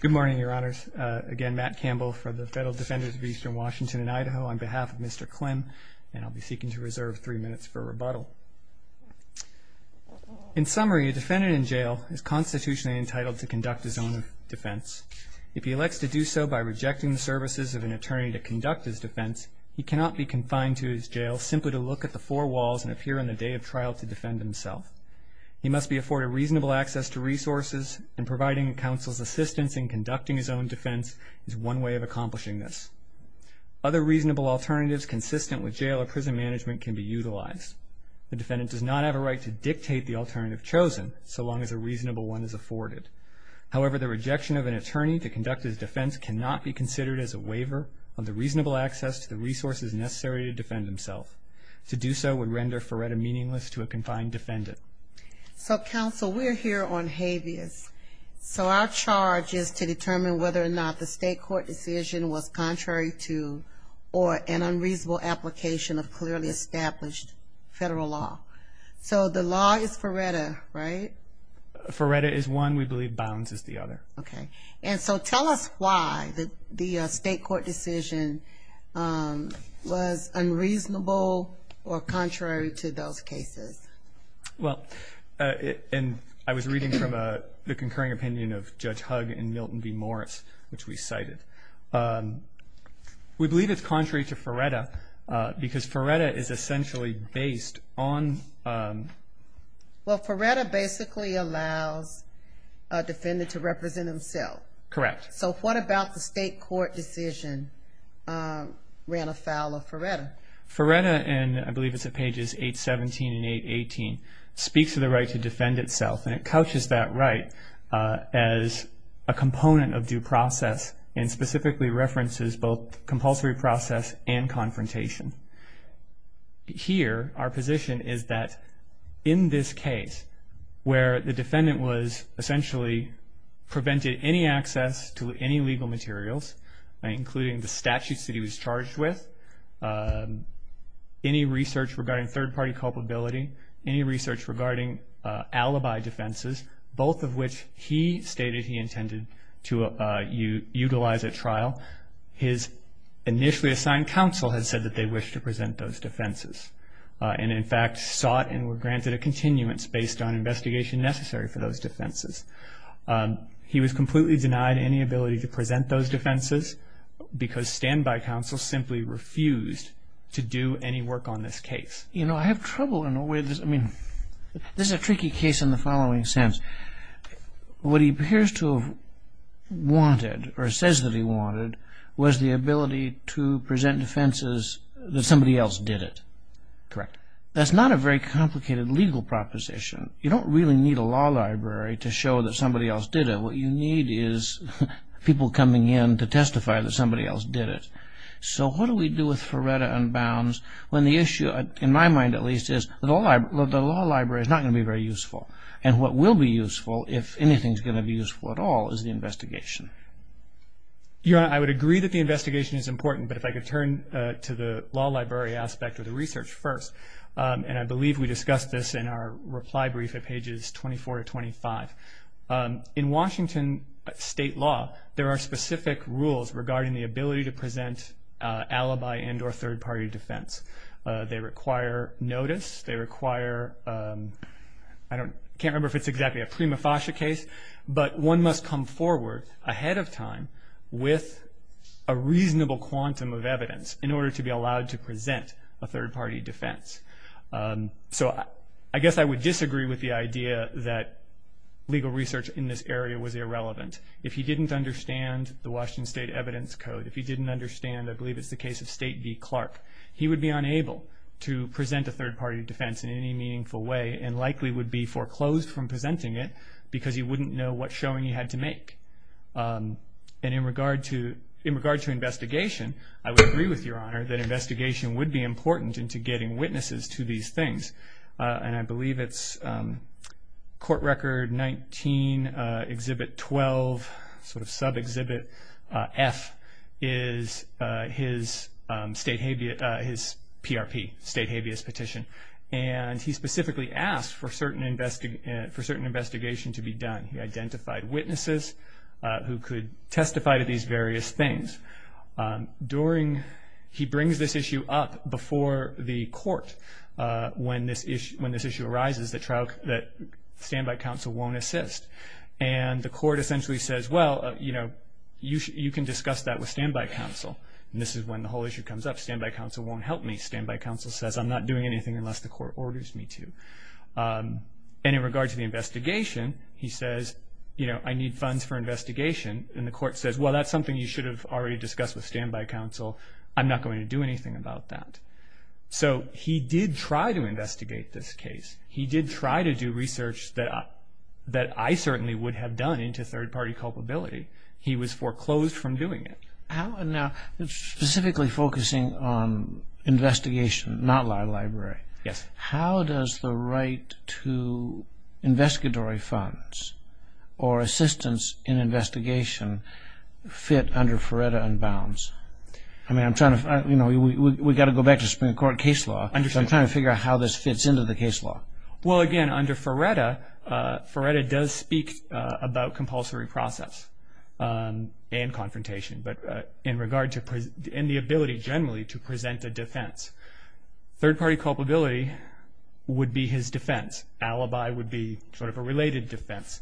Good morning, Your Honors. Again, Matt Campbell for the Federal Defenders of Eastern Washington and Idaho on behalf of Mr. Klym. And I'll be seeking to reserve three minutes for rebuttal. In summary, a defendant in jail is constitutionally entitled to conduct his own defense. If he elects to do so by rejecting the services of an attorney to conduct his defense, he cannot be confined to his jail simply to look at the four walls and appear on the day of trial to defend himself. He must be afforded reasonable access to resources, and providing counsel's assistance in conducting his own defense is one way of accomplishing this. Other reasonable alternatives consistent with jail or prison management can be utilized. The defendant does not have a right to dictate the alternative chosen so long as a reasonable one is afforded. However, the rejection of an attorney to conduct his defense cannot be considered as a waiver on the reasonable access to the resources necessary to defend himself. To do so would render FRERTA meaningless to a confined defendant. So, counsel, we're here on habeas. So our charge is to determine whether or not the state court decision was contrary to or an unreasonable application of clearly established federal law. So the law is FRERTA, right? FRERTA is one. We believe bounds is the other. Okay. And so tell us why the state court decision was unreasonable or contrary to those cases. Well, and I was reading from the concurring opinion of Judge Hugg and Milton B. Morris, which we cited. We believe it's contrary to FRERTA because FRERTA is essentially based on. Well, FRERTA basically allows a defendant to represent himself. Correct. So what about the state court decision ran afoul of FRERTA? FRERTA, and I believe it's at pages 817 and 818, speaks to the right to defend itself, and it couches that right as a component of due process and specifically references both compulsory process and confrontation. Here, our position is that in this case where the defendant was essentially prevented any access to any legal materials, including the statutes that he was charged with, any research regarding third-party culpability, any research regarding alibi defenses, both of which he stated he intended to utilize at trial, his initially assigned counsel had said that they wished to present those defenses and, in fact, sought and were granted a continuance based on investigation necessary for those defenses. He was completely denied any ability to present those defenses because standby counsel simply refused to do any work on this case. You know, I have trouble in a way. I mean, this is a tricky case in the following sense. What he appears to have wanted or says that he wanted was the ability to present defenses that somebody else did it. Correct. That's not a very complicated legal proposition. You don't really need a law library to show that somebody else did it. What you need is people coming in to testify that somebody else did it. So what do we do with FRERTA unbounds when the issue, in my mind at least, is the law library is not going to be very useful. And what will be useful, if anything is going to be useful at all, is the investigation. Your Honor, I would agree that the investigation is important, but if I could turn to the law library aspect of the research first, and I believe we discussed this in our reply brief at pages 24 to 25. In Washington state law, there are specific rules regarding the ability to present alibi and or third-party defense. They require notice. They require, I can't remember if it's exactly a prima facie case, but one must come forward ahead of time with a reasonable quantum of evidence in order to be allowed to present a third-party defense. So I guess I would disagree with the idea that legal research in this area was irrelevant. If he didn't understand the Washington state evidence code, if he didn't understand, I believe it's the case of State v. Clark, he would be unable to present a third-party defense in any meaningful way and likely would be foreclosed from presenting it because he wouldn't know what showing he had to make. And in regard to investigation, I would agree with Your Honor that investigation would be important into getting witnesses to these things. And I believe it's Court Record 19, Exhibit 12, sort of sub-exhibit F, is his PRP, state habeas petition. And he specifically asked for certain investigation to be done. He identified witnesses who could testify to these various things. He brings this issue up before the court when this issue arises that Standby Counsel won't assist. And the court essentially says, well, you can discuss that with Standby Counsel. And this is when the whole issue comes up. Standby Counsel won't help me. Standby Counsel says, I'm not doing anything unless the court orders me to. And in regard to the investigation, he says, I need funds for investigation. And the court says, well, that's something you should have already discussed with Standby Counsel. I'm not going to do anything about that. So he did try to investigate this case. He did try to do research that I certainly would have done into third-party culpability. He was foreclosed from doing it. Now, specifically focusing on investigation, not law library. Yes. How does the right to investigatory funds or assistance in investigation fit under Ferretta and Bounds? I mean, I'm trying to, you know, we've got to go back to Supreme Court case law. I'm trying to figure out how this fits into the case law. Well, again, under Ferretta, Ferretta does speak about compulsory process and confrontation. But in regard to the ability generally to present a defense, third-party culpability would be his defense. Alibi would be sort of a related defense.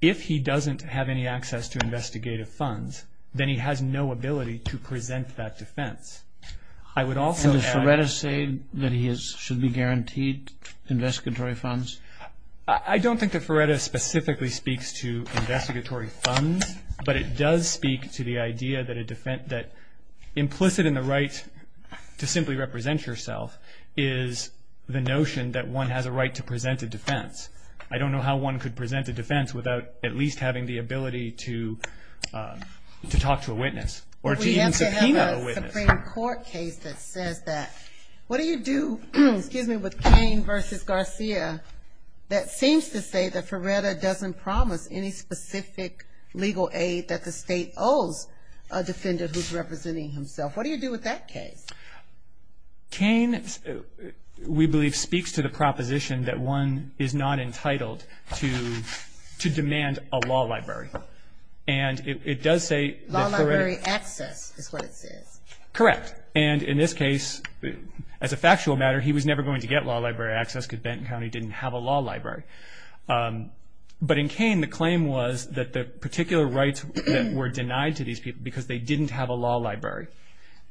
If he doesn't have any access to investigative funds, then he has no ability to present that defense. I would also add. So does Ferretta say that he should be guaranteed investigatory funds? I don't think that Ferretta specifically speaks to investigatory funds. But it does speak to the idea that implicit in the right to simply represent yourself is the notion that one has a right to present a defense. I don't know how one could present a defense without at least having the ability to talk to a witness or to even subpoena a witness. We have to have a Supreme Court case that says that. What do you do with Cain versus Garcia that seems to say that Ferretta doesn't promise any specific legal aid that the state owes a defender who's representing himself? What do you do with that case? Cain, we believe, speaks to the proposition that one is not entitled to demand a law library. And it does say that Ferretta. Law library access is what it says. Correct. And in this case, as a factual matter, he was never going to get law library access because Benton County didn't have a law library. But in Cain, the claim was that the particular rights that were denied to these people because they didn't have a law library.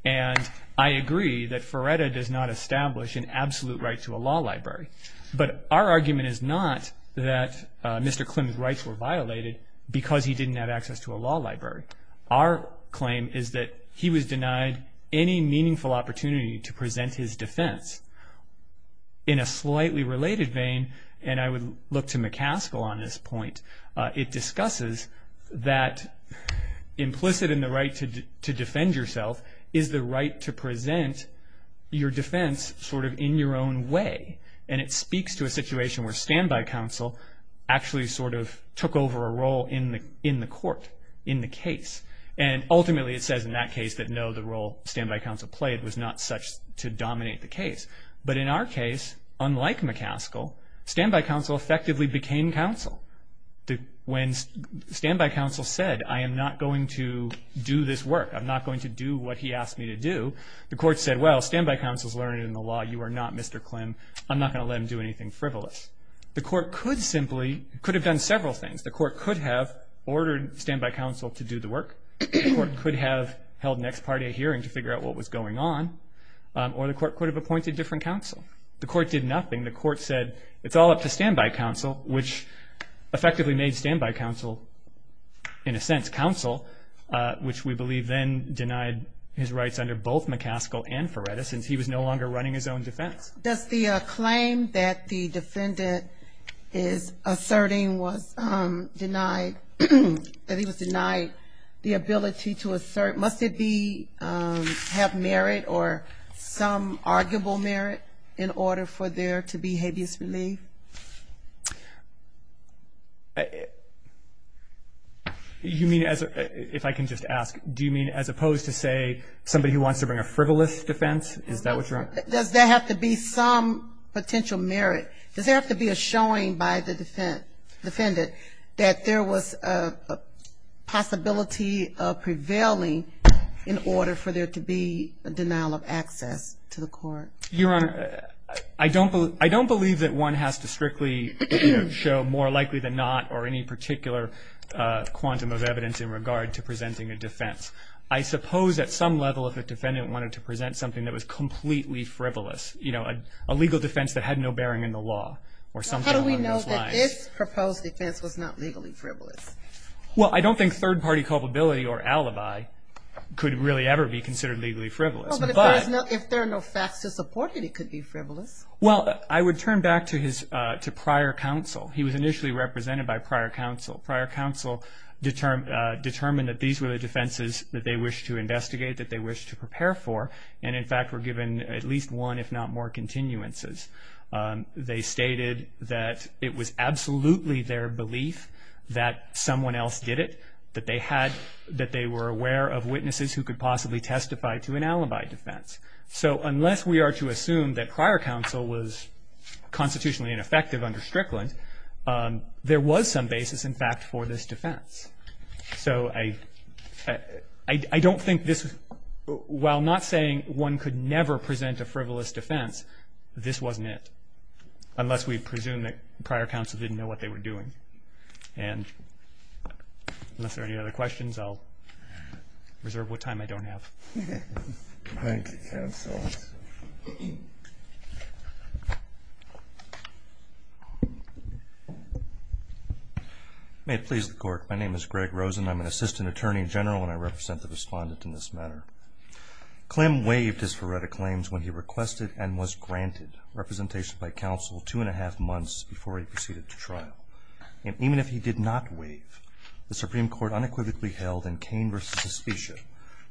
And I agree that Ferretta does not establish an absolute right to a law library. But our argument is not that Mr. Klimt's rights were violated because he didn't have access to a law library. Our claim is that he was denied any meaningful opportunity to present his defense. In a slightly related vein, and I would look to McCaskill on this point, it discusses that implicit in the right to defend yourself is the right to present your defense sort of in your own way. And it speaks to a situation where standby counsel actually sort of took over a role in the court, in the case. And ultimately, it says in that case that no, the role standby counsel played was not such to dominate the case. But in our case, unlike McCaskill, standby counsel effectively became counsel. When standby counsel said, I am not going to do this work, I'm not going to do what he asked me to do, the court said, well, standby counsel has learned in the law you are not Mr. Klimt. I'm not going to let him do anything frivolous. The court could have done several things. The court could have ordered standby counsel to do the work. The court could have held an ex parte hearing to figure out what was going on. Or the court could have appointed different counsel. The court did nothing. The court said, it's all up to standby counsel, which effectively made standby counsel, in a sense, counsel, which we believe then denied his rights under both McCaskill and Ferretta since he was no longer running his own defense. Does the claim that the defendant is asserting was denied, that he was denied the ability to assert, must it be have merit or some arguable merit in order for there to be habeas relief? You mean, if I can just ask, do you mean as opposed to say somebody who wants to bring a frivolous defense? Is that what you're asking? Does there have to be some potential merit? Does there have to be a showing by the defendant that there was a possibility of prevailing in order for there to be a denial of access to the court? Your Honor, I don't believe that one has to strictly show more likely than not or any particular quantum of evidence in regard to presenting a defense. I suppose at some level if a defendant wanted to present something that was completely frivolous, you know, a legal defense that had no bearing in the law or something along those lines. How do we know that this proposed defense was not legally frivolous? Well, I don't think third party culpability or alibi could really ever be considered legally frivolous. Well, but if there are no facts to support it, it could be frivolous. Well, I would turn back to prior counsel. He was initially represented by prior counsel. Prior counsel determined that these were the defenses that they wished to investigate, that they wished to prepare for, and in fact were given at least one if not more continuances. They stated that it was absolutely their belief that someone else did it, that they were aware of witnesses who could possibly testify to an alibi defense. So unless we are to assume that prior counsel was constitutionally ineffective under Strickland, there was some basis in fact for this defense. So I don't think this, while not saying one could never present a frivolous defense, this wasn't it, unless we presume that prior counsel didn't know what they were doing. And unless there are any other questions, I'll reserve what time I don't have. Thank you, counsel. May it please the Court. My name is Greg Rosen. I'm an assistant attorney general, and I represent the respondent in this matter. Clem waived his Ferretta claims when he requested and was granted representation by counsel two and a half months before he proceeded to trial. And even if he did not waive, the Supreme Court unequivocally held in Cain v. Suspicio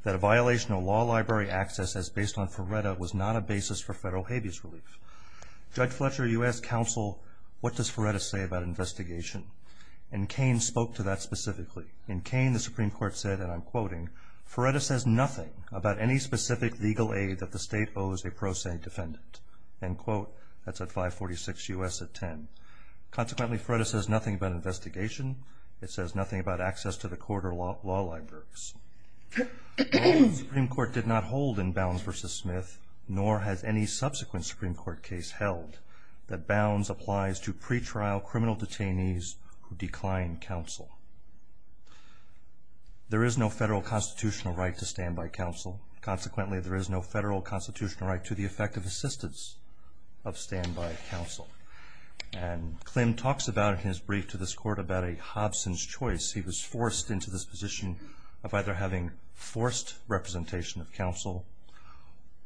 that a violation of law library access as based on Ferretta was not a basis for federal habeas relief. Judge Fletcher, you asked counsel, what does Ferretta say about investigation? And Cain spoke to that specifically. In Cain, the Supreme Court said, and I'm quoting, Ferretta says nothing about any specific legal aid that the state owes a pro se defendant. End quote. That's at 546 U.S. at 10. Consequently, Ferretta says nothing about investigation. It says nothing about access to the court or law libraries. The Supreme Court did not hold in Bounds v. Smith, nor has any subsequent Supreme Court case held, that Bounds applies to pretrial criminal detainees who decline counsel. There is no federal constitutional right to standby counsel. Consequently, there is no federal constitutional right to the effective assistance of standby counsel. And Klim talks about it in his brief to this court about a Hobson's choice. He was forced into this position of either having forced representation of counsel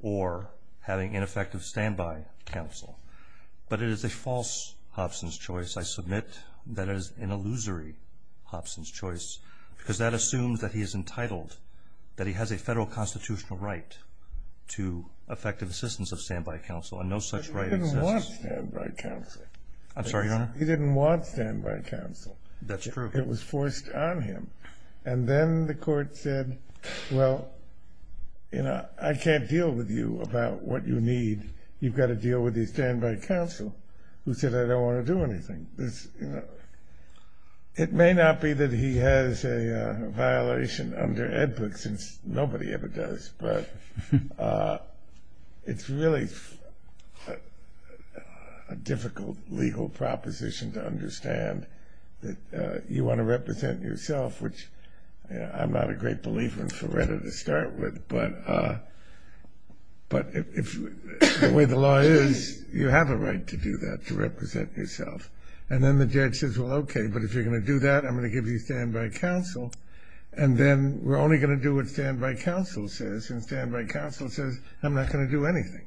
or having ineffective standby counsel. But it is a false Hobson's choice. I submit that it is an illusory Hobson's choice because that assumes that he is entitled, that he has a federal constitutional right to effective assistance of standby counsel. And no such right exists. But he didn't want standby counsel. I'm sorry, Your Honor? He didn't want standby counsel. That's true. It was forced on him. And then the court said, well, you know, I can't deal with you about what you need. You've got to deal with the standby counsel, who said, I don't want to do anything. You know, it may not be that he has a violation under Ed Book since nobody ever does. But it's really a difficult legal proposition to understand that you want to represent yourself, which I'm not a great believer in, to start with. But the way the law is, you have a right to do that, to represent yourself. And then the judge says, well, okay, but if you're going to do that, I'm going to give you standby counsel. And then we're only going to do what standby counsel says. And standby counsel says, I'm not going to do anything.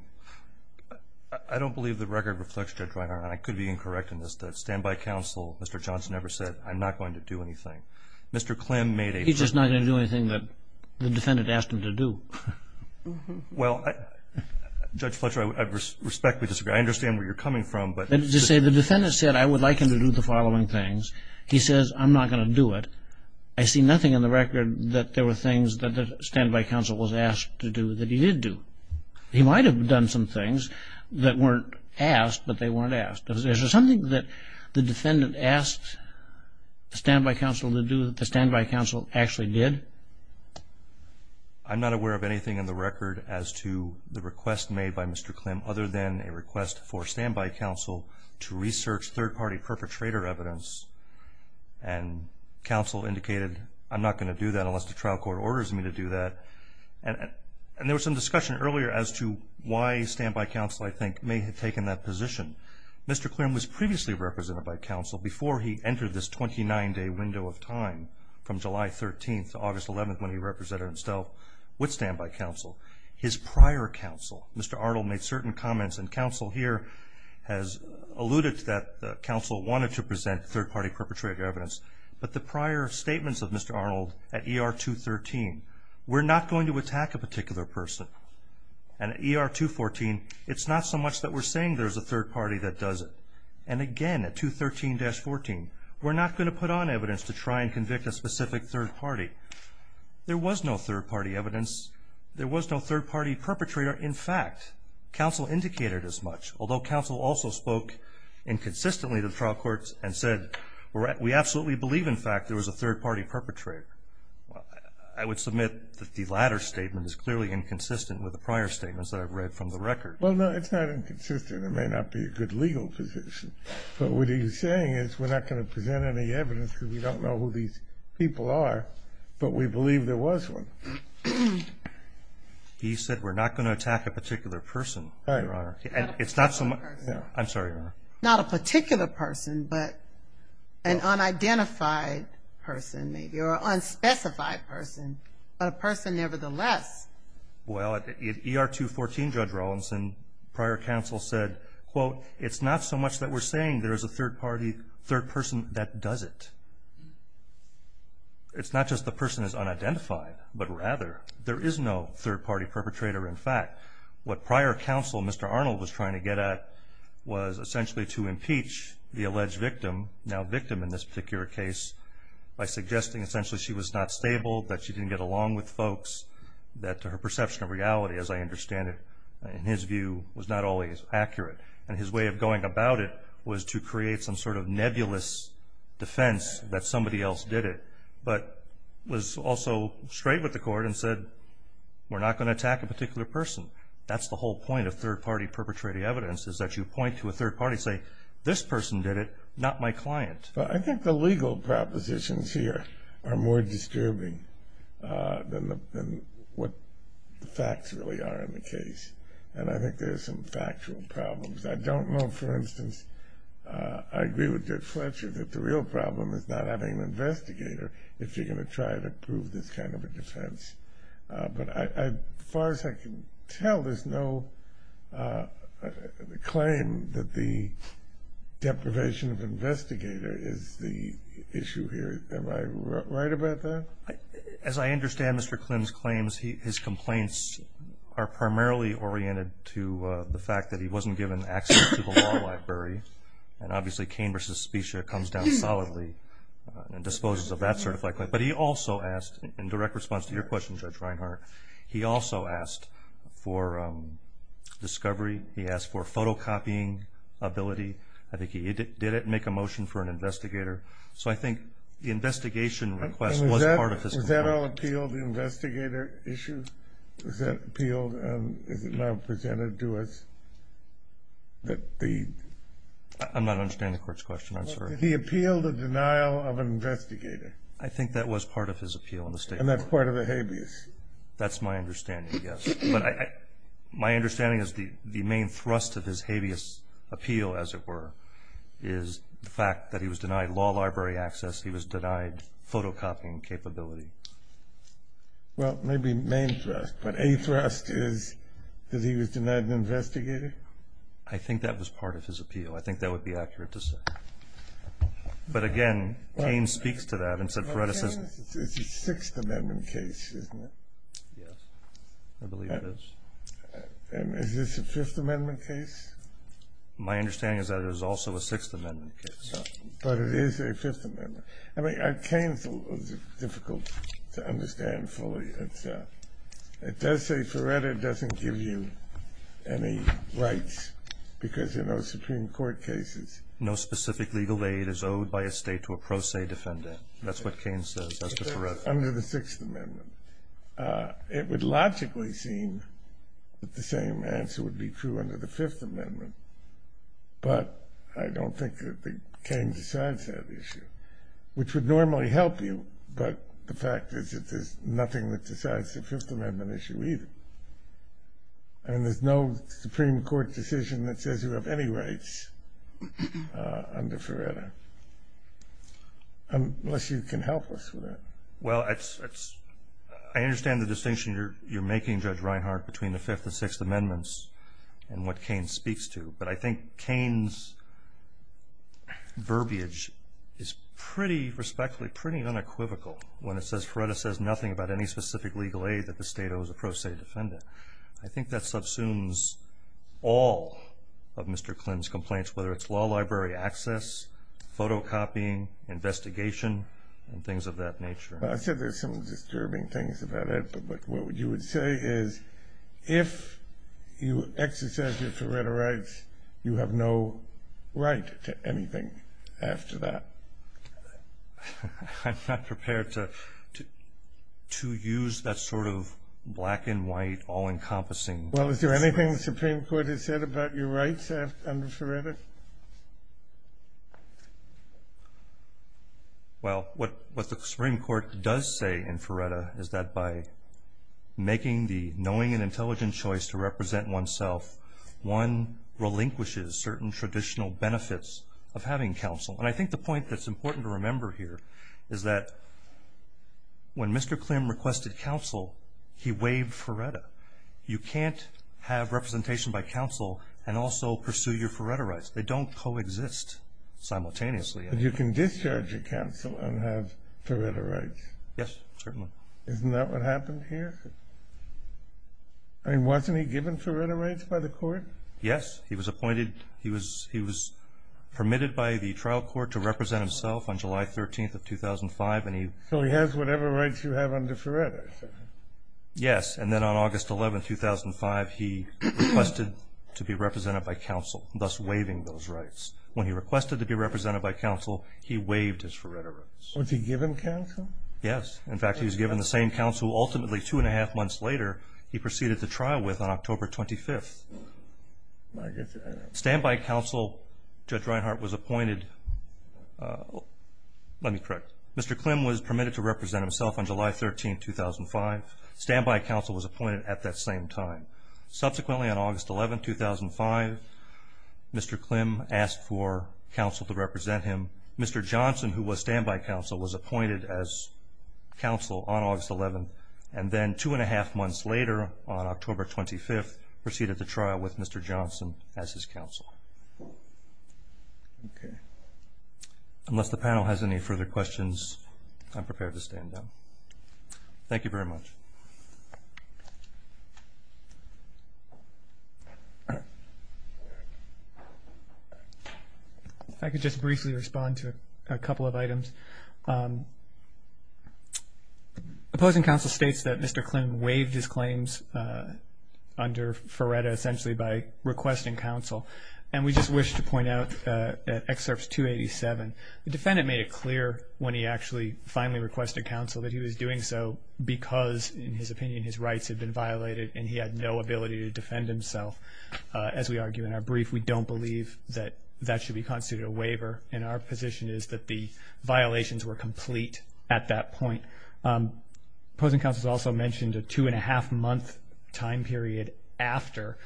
I don't believe the record reflects, Judge Reinhart, and I could be incorrect in this that standby counsel, Mr. Johnson never said, I'm not going to do anything. He's just not going to do anything that the defendant asked him to do. Well, Judge Fletcher, I respectfully disagree. I understand where you're coming from. The defendant said, I would like him to do the following things. He says, I'm not going to do it. I see nothing in the record that there were things that the standby counsel was asked to do that he did do. He might have done some things that weren't asked, but they weren't asked. Is there something that the defendant asked standby counsel to do that the standby counsel actually did? I'm not aware of anything in the record as to the request made by Mr. Klim other than a request for standby counsel to research third-party perpetrator evidence. And counsel indicated, I'm not going to do that unless the trial court orders me to do that. And there was some discussion earlier as to why standby counsel, I think, may have taken that position. Mr. Klim was previously represented by counsel before he entered this 29-day window of time from July 13th to August 11th when he represented himself with standby counsel. His prior counsel, Mr. Arnold, made certain comments, and counsel here has alluded that counsel wanted to present third-party perpetrator evidence. But the prior statements of Mr. Arnold at ER 213, we're not going to attack a particular person. And at ER 214, it's not so much that we're saying there's a third party that does it. And again, at 213-14, we're not going to put on evidence to try and convict a specific third party. There was no third-party evidence. There was no third-party perpetrator. In fact, counsel indicated as much, although counsel also spoke inconsistently to the trial courts and said, we absolutely believe, in fact, there was a third-party perpetrator. I would submit that the latter statement is clearly inconsistent with the prior statements that I've read from the record. Well, no, it's not inconsistent. It may not be a good legal position. But what he was saying is we're not going to present any evidence because we don't know who these people are, but we believe there was one. He said we're not going to attack a particular person, Your Honor. And it's not so much – I'm sorry, Your Honor. Not a particular person, but an unidentified person, maybe, or unspecified person, but a person nevertheless. Well, at ER 214, Judge Rawlinson, prior counsel said, quote, it's not so much that we're saying there's a third party, third person that does it. It's not just the person is unidentified, but rather there is no third-party perpetrator. In fact, what prior counsel, Mr. Arnold, was trying to get at was essentially to impeach the alleged victim, now victim in this particular case, by suggesting essentially she was not stable, that she didn't get along with folks, that her perception of reality, as I understand it, in his view, was not always accurate. And his way of going about it was to create some sort of nebulous defense that somebody else did it, but was also straight with the court and said, we're not going to attack a particular person. That's the whole point of third-party perpetrator evidence, is that you point to a third party and say, this person did it, not my client. Well, I think the legal propositions here are more disturbing than what the facts really are in the case. And I think there's some factual problems. I don't know, for instance, I agree with Dick Fletcher that the real problem is not having an investigator if you're going to try to prove this kind of a defense. But as far as I can tell, there's no claim that the deprivation of investigator is the issue here. Am I right about that? As I understand Mr. Klim's claims, his complaints are primarily oriented to the fact that he wasn't given access to the law library. And obviously, Cain v. Specia comes down solidly and disposes of that certified claim. But he also asked, in direct response to your question, Judge Reinhart, he also asked for discovery. He asked for photocopying ability. I think he did it and make a motion for an investigator. So I think the investigation request was part of his complaint. Was that all appealed, the investigator issue? Was that appealed and is it now presented to us that the- I'm not understanding the court's question, I'm sorry. Did he appeal the denial of an investigator? I think that was part of his appeal in the state court. And that's part of the habeas? That's my understanding, yes. But my understanding is the main thrust of his habeas appeal, as it were, is the fact that he was denied law library access, he was denied photocopying capability. Well, maybe main thrust. But a thrust is that he was denied an investigator? I think that was part of his appeal. I think that would be accurate to say. But again, Cain speaks to that and said- It's a Sixth Amendment case, isn't it? Yes, I believe it is. Is this a Fifth Amendment case? My understanding is that it is also a Sixth Amendment case. But it is a Fifth Amendment. I mean, Cain's is difficult to understand fully. It does say Ferretta doesn't give you any rights because there are no Supreme Court cases. No specific legal aid is owed by a state to a pro se defendant. That's what Cain says as to Ferretta. Under the Sixth Amendment. It would logically seem that the same answer would be true under the Fifth Amendment. But I don't think that Cain decides that issue. Which would normally help you. But the fact is that there's nothing that decides the Fifth Amendment issue either. And there's no Supreme Court decision that says you have any rights under Ferretta. Unless you can help us with that. Well, I understand the distinction you're making, Judge Reinhart, between the Fifth and Sixth Amendments and what Cain speaks to. But I think Cain's verbiage is pretty, respectfully, pretty unequivocal. When it says Ferretta says nothing about any specific legal aid that the state owes a pro se defendant. I think that subsumes all of Mr. Clinton's complaints. Whether it's law library access, photocopying, investigation, and things of that nature. I said there's some disturbing things about it. But what you would say is if you exercise your Ferretta rights, you have no right to anything after that. I'm not prepared to use that sort of black and white, all-encompassing. Well, is there anything the Supreme Court has said about your rights under Ferretta? Well, what the Supreme Court does say in Ferretta is that by making the knowing and intelligent choice to represent oneself, one relinquishes certain traditional benefits of having counsel. And I think the point that's important to remember here is that when Mr. Klim requested counsel, he waived Ferretta. You can't have representation by counsel and also pursue your Ferretta rights. They don't coexist simultaneously. But you can discharge your counsel and have Ferretta rights? Yes, certainly. Isn't that what happened here? I mean, wasn't he given Ferretta rights by the court? Yes, he was permitted by the trial court to represent himself on July 13th of 2005. So he has whatever rights you have under Ferretta? Yes, and then on August 11th, 2005, he requested to be represented by counsel, thus waiving those rights. When he requested to be represented by counsel, he waived his Ferretta rights. Was he given counsel? Yes. In fact, he was given the same counsel ultimately two-and-a-half months later he proceeded to trial with on October 25th. Standby counsel, Judge Reinhart, was appointed. Let me correct. Mr. Klim was permitted to represent himself on July 13th, 2005. Standby counsel was appointed at that same time. Subsequently, on August 11th, 2005, Mr. Klim asked for counsel to represent him. Mr. Johnson, who was standby counsel, was appointed as counsel on August 11th, and then two-and-a-half months later, on October 25th, proceeded to trial with Mr. Johnson as his counsel. Okay. Unless the panel has any further questions, I'm prepared to stand down. Thank you very much. If I could just briefly respond to a couple of items. Opposing counsel states that Mr. Klim waived his claims under Ferretta essentially by requesting counsel, and we just wish to point out in Excerpts 287, the defendant made it clear when he actually finally requested counsel that he was doing so because, in his opinion, his rights had been violated and he had no ability to defend himself. As we argue in our brief, we don't believe that that should be considered a waiver, and our position is that the violations were complete at that point. Opposing counsel also mentioned a two-and-a-half-month time period after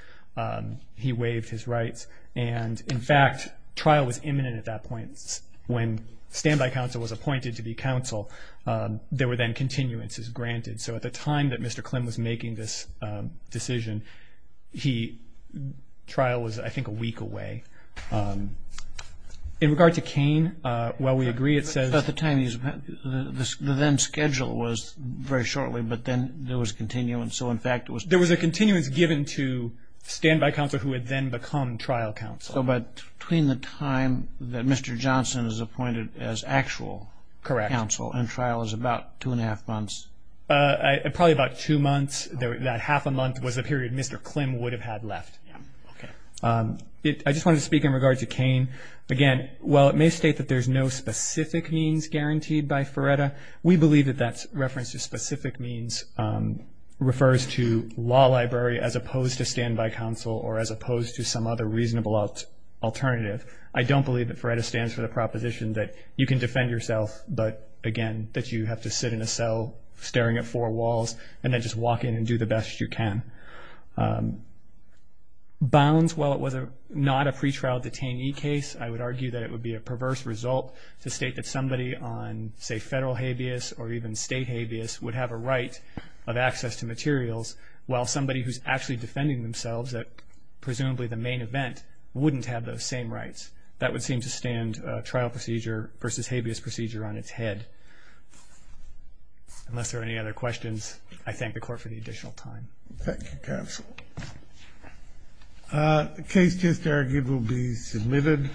he waived his rights, and, in fact, trial was imminent at that point. When standby counsel was appointed to be counsel, there were then continuances granted. So at the time that Mr. Klim was making this decision, trial was, I think, a week away. In regard to Kane, while we agree, it says- At the time, the then schedule was very shortly, but then there was a continuance. So, in fact, it was- There was a continuance given to standby counsel who had then become trial counsel. So between the time that Mr. Johnson is appointed as actual counsel- Correct. And trial is about two-and-a-half months? Probably about two months. That half a month was a period Mr. Klim would have had left. Okay. I just wanted to speak in regard to Kane. Again, while it may state that there's no specific means guaranteed by FREDA, we believe that that reference to specific means refers to law library as opposed to standby counsel or as opposed to some other reasonable alternative. I don't believe that FREDA stands for the proposition that you can defend yourself, but, again, that you have to sit in a cell staring at four walls and then just walk in and do the best you can. Bounds, while it was not a pretrial detainee case, I would argue that it would be a perverse result to state that somebody on, say, federal habeas or even state habeas would have a right of access to materials while somebody who's actually defending themselves at presumably the main event wouldn't have those same rights. That would seem to stand trial procedure versus habeas procedure on its head. Unless there are any other questions, I thank the Court for the additional time. Thank you, counsel. The case just argued will be submitted.